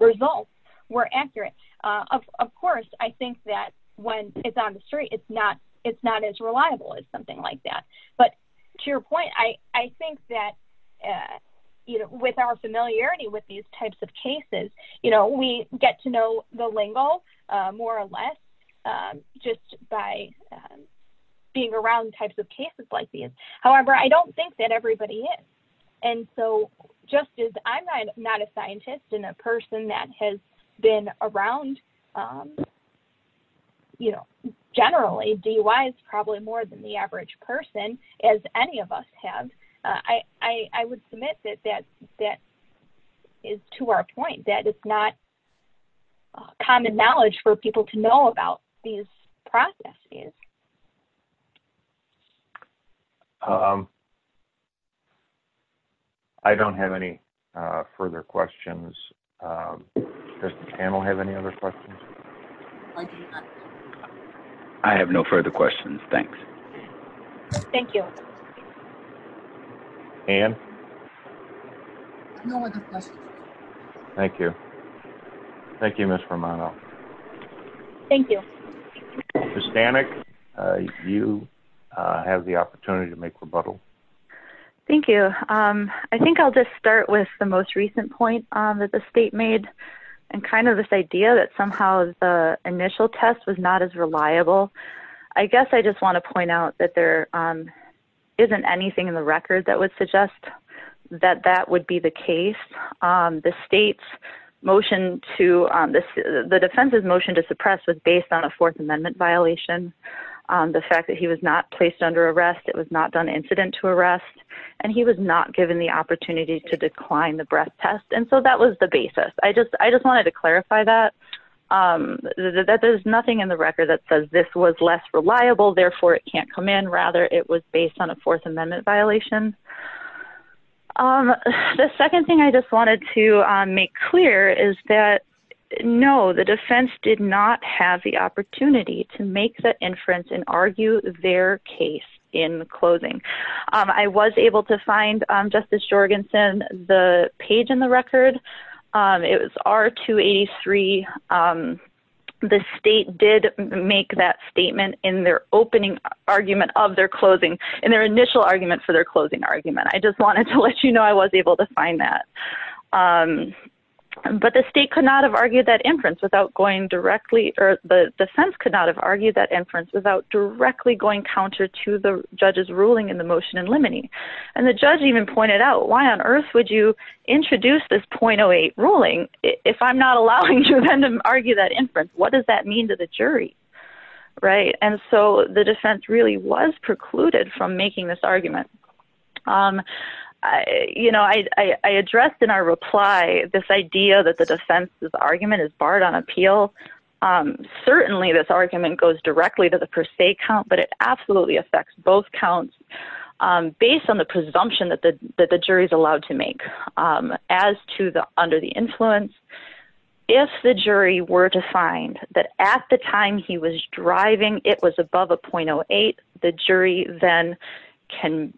results were accurate. Of course, I think that when it's on the street, it's not as reliable as something like that. But to your point, I think that with our familiarity with these types of cases, we get to know the lingo more or less just by being around types of cases like these. However, I don't think that everybody is. And so just as I'm not a scientist and a person that has been around, you know, generally DUI is probably more than the average person as any of us have. I would submit that that is to our point, that it's not common knowledge for people to know about these processes. I don't have any further questions. Does the panel have any other questions? I have no further questions. Thanks. Thank you. Anne? No other questions. Thank you. Thank you, Ms. Romano. Thank you. Ms. Stanek, you have the opportunity to make rebuttal. Thank you. I think I'll just start with the most recent point that the state made and kind of this idea that somehow the initial test was not as reliable. I guess I just want to point out that there isn't anything in the record that would suggest that that would be the case. The defense's motion to suppress was based on a Fourth Amendment violation. The fact that he was not placed under arrest, it was not done incident to arrest, and he was not given the opportunity to decline the breath test. And so that was the basis. I just was less reliable. Therefore, it can't come in. Rather, it was based on a Fourth Amendment violation. The second thing I just wanted to make clear is that, no, the defense did not have the opportunity to make that inference and argue their case in closing. I was able to find, Justice in their opening argument of their closing, in their initial argument for their closing argument. I just wanted to let you know I was able to find that. But the state could not have argued that inference without going directly, or the defense could not have argued that inference without directly going counter to the judge's ruling in the motion in limine. And the judge even pointed out, why on earth would you introduce this 0.08 ruling if I'm not allowing you to argue that right? And so the defense really was precluded from making this argument. You know, I addressed in our reply, this idea that the defense's argument is barred on appeal. Certainly, this argument goes directly to the per se count, but it absolutely affects both counts, based on the presumption that the jury is allowed to make. As to the under the influence, if the jury were to find that at the time he was driving, it was above a 0.08, the jury then can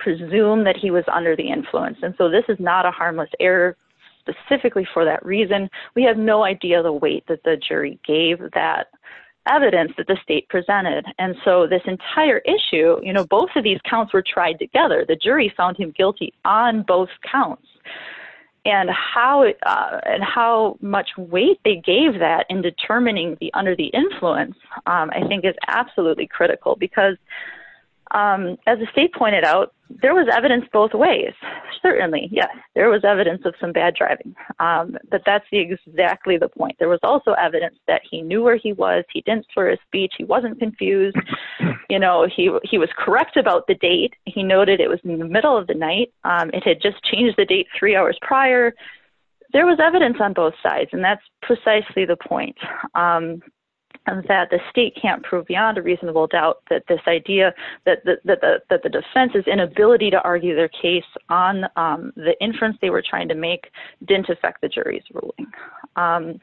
presume that he was under the influence. And so this is not a harmless error, specifically for that reason. We have no idea the weight that the jury gave that evidence that the state presented. And so this entire issue, you know, both of these counts were tried together. The jury found him guilty on both counts. And how much weight they gave that in determining the under the influence, I think is absolutely critical. Because as the state pointed out, there was evidence both ways. Certainly, yeah, there was evidence of some bad driving. But that's exactly the point. There was also evidence that he knew where he was, he didn't swear his speech, he wasn't confused. You know, he was correct about the date, he noted it was in the middle of the night, it had just changed the date three hours prior, there was evidence on both sides. And that's precisely the point. And that the state can't prove beyond a reasonable doubt that this idea that the defense's inability to argue their case on the inference they were trying to make didn't affect the jury's ruling.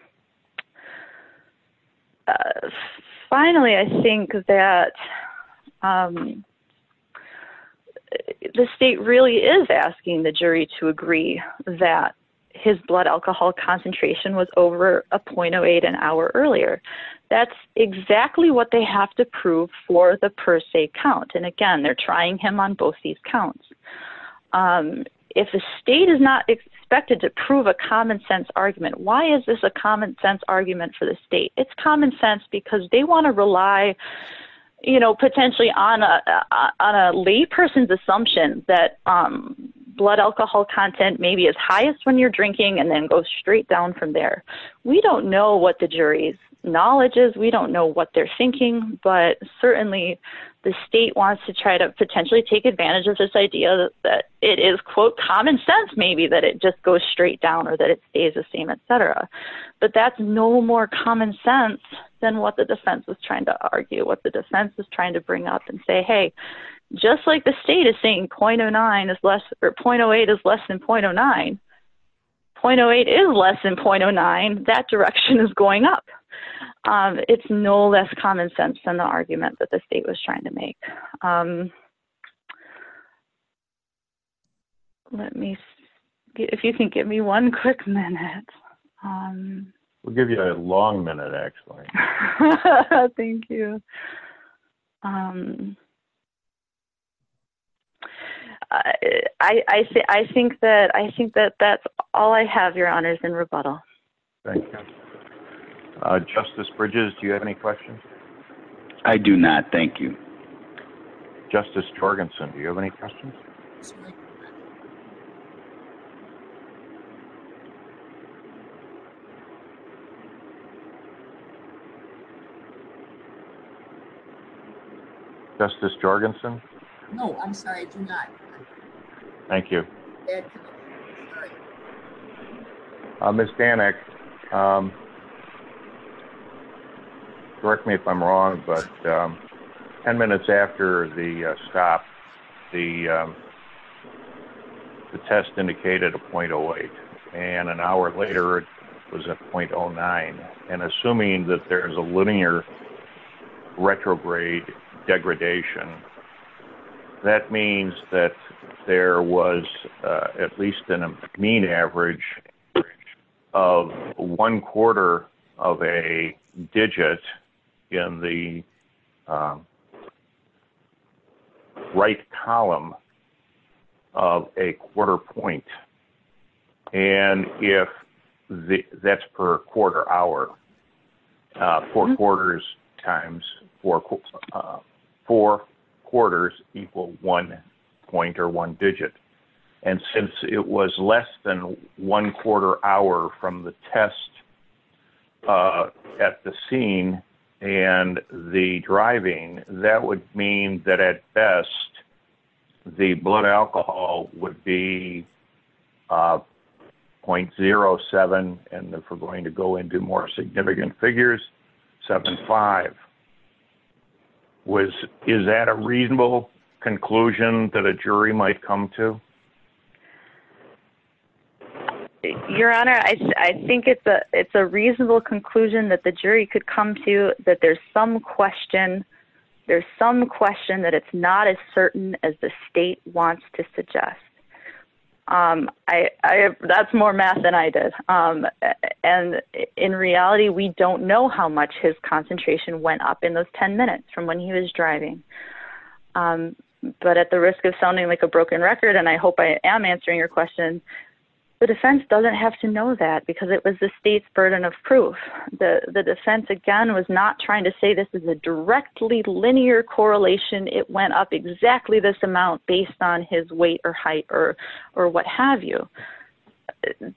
Finally, I think that the state really is asking the jury to agree that his blood alcohol concentration was over a .08 an hour earlier. That's exactly what they have to prove for the per se count. And again, they're trying him on both these counts. If the state is not expected to prove a common sense argument, why is this a common sense argument for the state? It's common sense because they want to rely, you know, potentially on a lay person's assumption that blood alcohol content may be as highest when you're drinking and then go straight down from there. We don't know what the jury's knowledge is, we don't know what they're thinking. But certainly, the state wants to try to potentially take advantage of this idea that it is quote, common sense, maybe that it just goes straight down or that it stays the same, etc. But that's no more common sense than what the defense is trying to argue, what the defense is trying to bring up and say, hey, just like the state is saying .08 is less than .09, .08 is less than .09, that direction is going up. It's no less common sense than the argument that the state was trying to make. Okay. Let me see. If you can give me one quick minute. We'll give you a long minute, Axel. Thank you. I think that that's all I have, Your Honors, in rebuttal. Thank you. Justice Bridges, do you have any questions? I do not, thank you. Justice Jorgensen, do you have any questions? Justice Jorgensen? No, I'm sorry, I do not. Thank you. Ed? Ms. Danek, correct me if I'm wrong, but 10 minutes after the stop, the test indicated a .08, and an hour later, it was a .09. And assuming that there is a linear retrograde degradation, that means that there was at least a mean average of one quarter of a digit in the right column of a quarter point. And if that's per quarter hour, four quarters times, four quarters equal one point or one digit. And since it was less than one quarter hour from the start, that would mean that at best, the blood alcohol would be .07. And if we're going to go into more significant figures, .75. Is that a reasonable conclusion that a jury might come to? Your Honor, I think it's a reasonable conclusion that the jury could come to, that there's some question, there's some question that it's not as certain as the state wants to suggest. That's more math than I did. And in reality, we don't know how much his concentration went up in those 10 minutes from when he was driving. But at the risk of sounding like a broken record, and I hope I am answering your question. The defense doesn't have to know that because it was the state's burden of proof. The defense, again, was not trying to say this is a directly linear correlation. It went up exactly this amount based on his weight or height or what have you.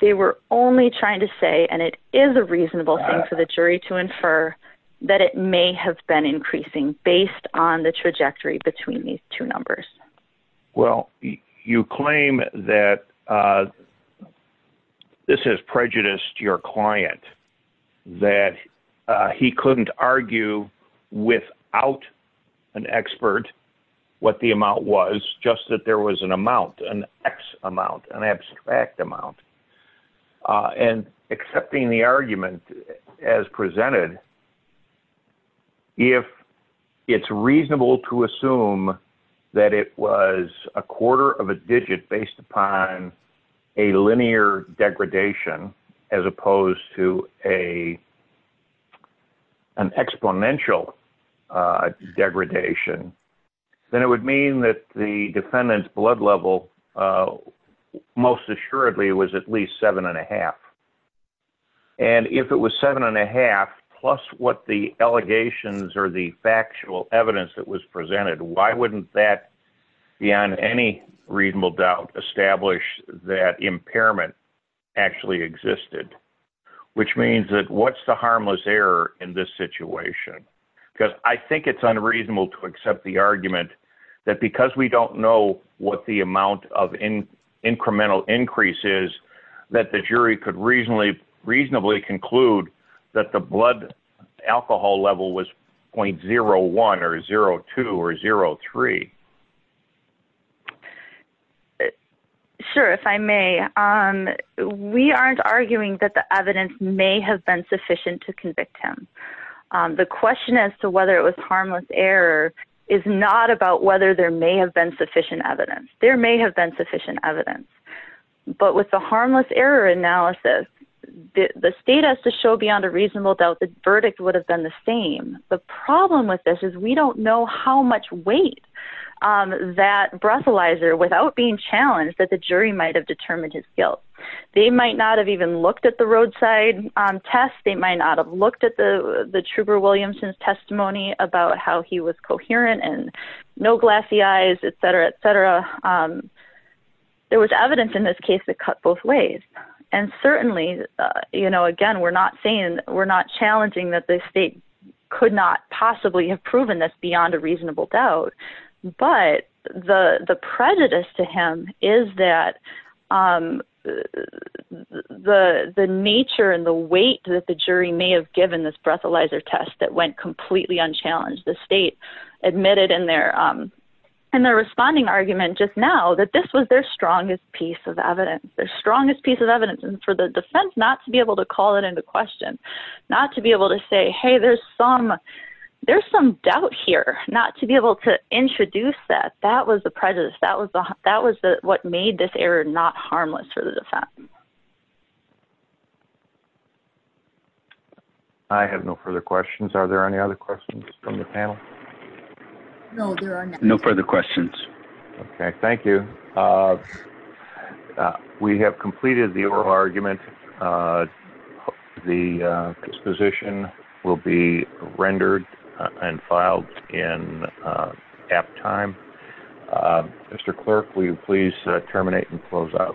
They were only trying to say, and it is a reasonable thing for the jury to infer, that it may have been increasing based on the trajectory between these two numbers. Well, you claim that this has prejudiced your client, that he couldn't argue without an expert what the amount was, just that there was an amount, an X amount, an abstract amount. And accepting the argument as presented, if it's reasonable to assume that it was a quarter of a digit based upon a linear degradation as opposed to an exponential degradation, then it would mean that the defendant's blood level most assuredly was at least 7.5. And if it was 7.5 plus what the allegations or the factual evidence that was presented, why wouldn't that, beyond any reasonable doubt, establish that impairment actually existed? Which means that what's the harmless error in this situation? Because I think it's unreasonable to accept the argument that because we don't know what the amount of incremental increase is, that the jury could reasonably conclude that the blood alcohol level was 0.01 or 0.02 or 0.03. Sure, if I may. We aren't arguing that the evidence may have been sufficient to convict him. The question as to whether it was harmless error is not about whether there may have been sufficient evidence. There may have been sufficient evidence. But with the harmless error analysis, the state has to show beyond a reasonable doubt the verdict would have been the same. The problem with this is we don't know how much weight that breathalyzer, without being challenged, that the jury might have determined his guilt. They might not have even looked at the roadside test. They might not have looked at the Trouber-Williamson's testimony about how he was coherent and no glassy eyes, etc., etc. There was evidence in this case that cut both ways. And certainly, again, we're not saying, we're not challenging that the state could not possibly have proven this beyond a reasonable doubt. But the prejudice to him is that the nature and the weight that the jury may have given this breathalyzer test that went completely unchallenged. The state admitted in their responding argument just now that this was their strongest piece of evidence, their strongest piece of evidence. And for the defense not to be able to call it into question, not to be able to say, hey, there's some doubt here, not to be able to introduce that. That was the prejudice. That was what made this error not harmless for the defense. I have no further questions. Are there any other questions from the panel? No further questions. Okay. Thank you. We have completed the oral argument. The disposition will be rendered and filed in apt time. Mr. Clerk, will you please terminate and close out proceedings?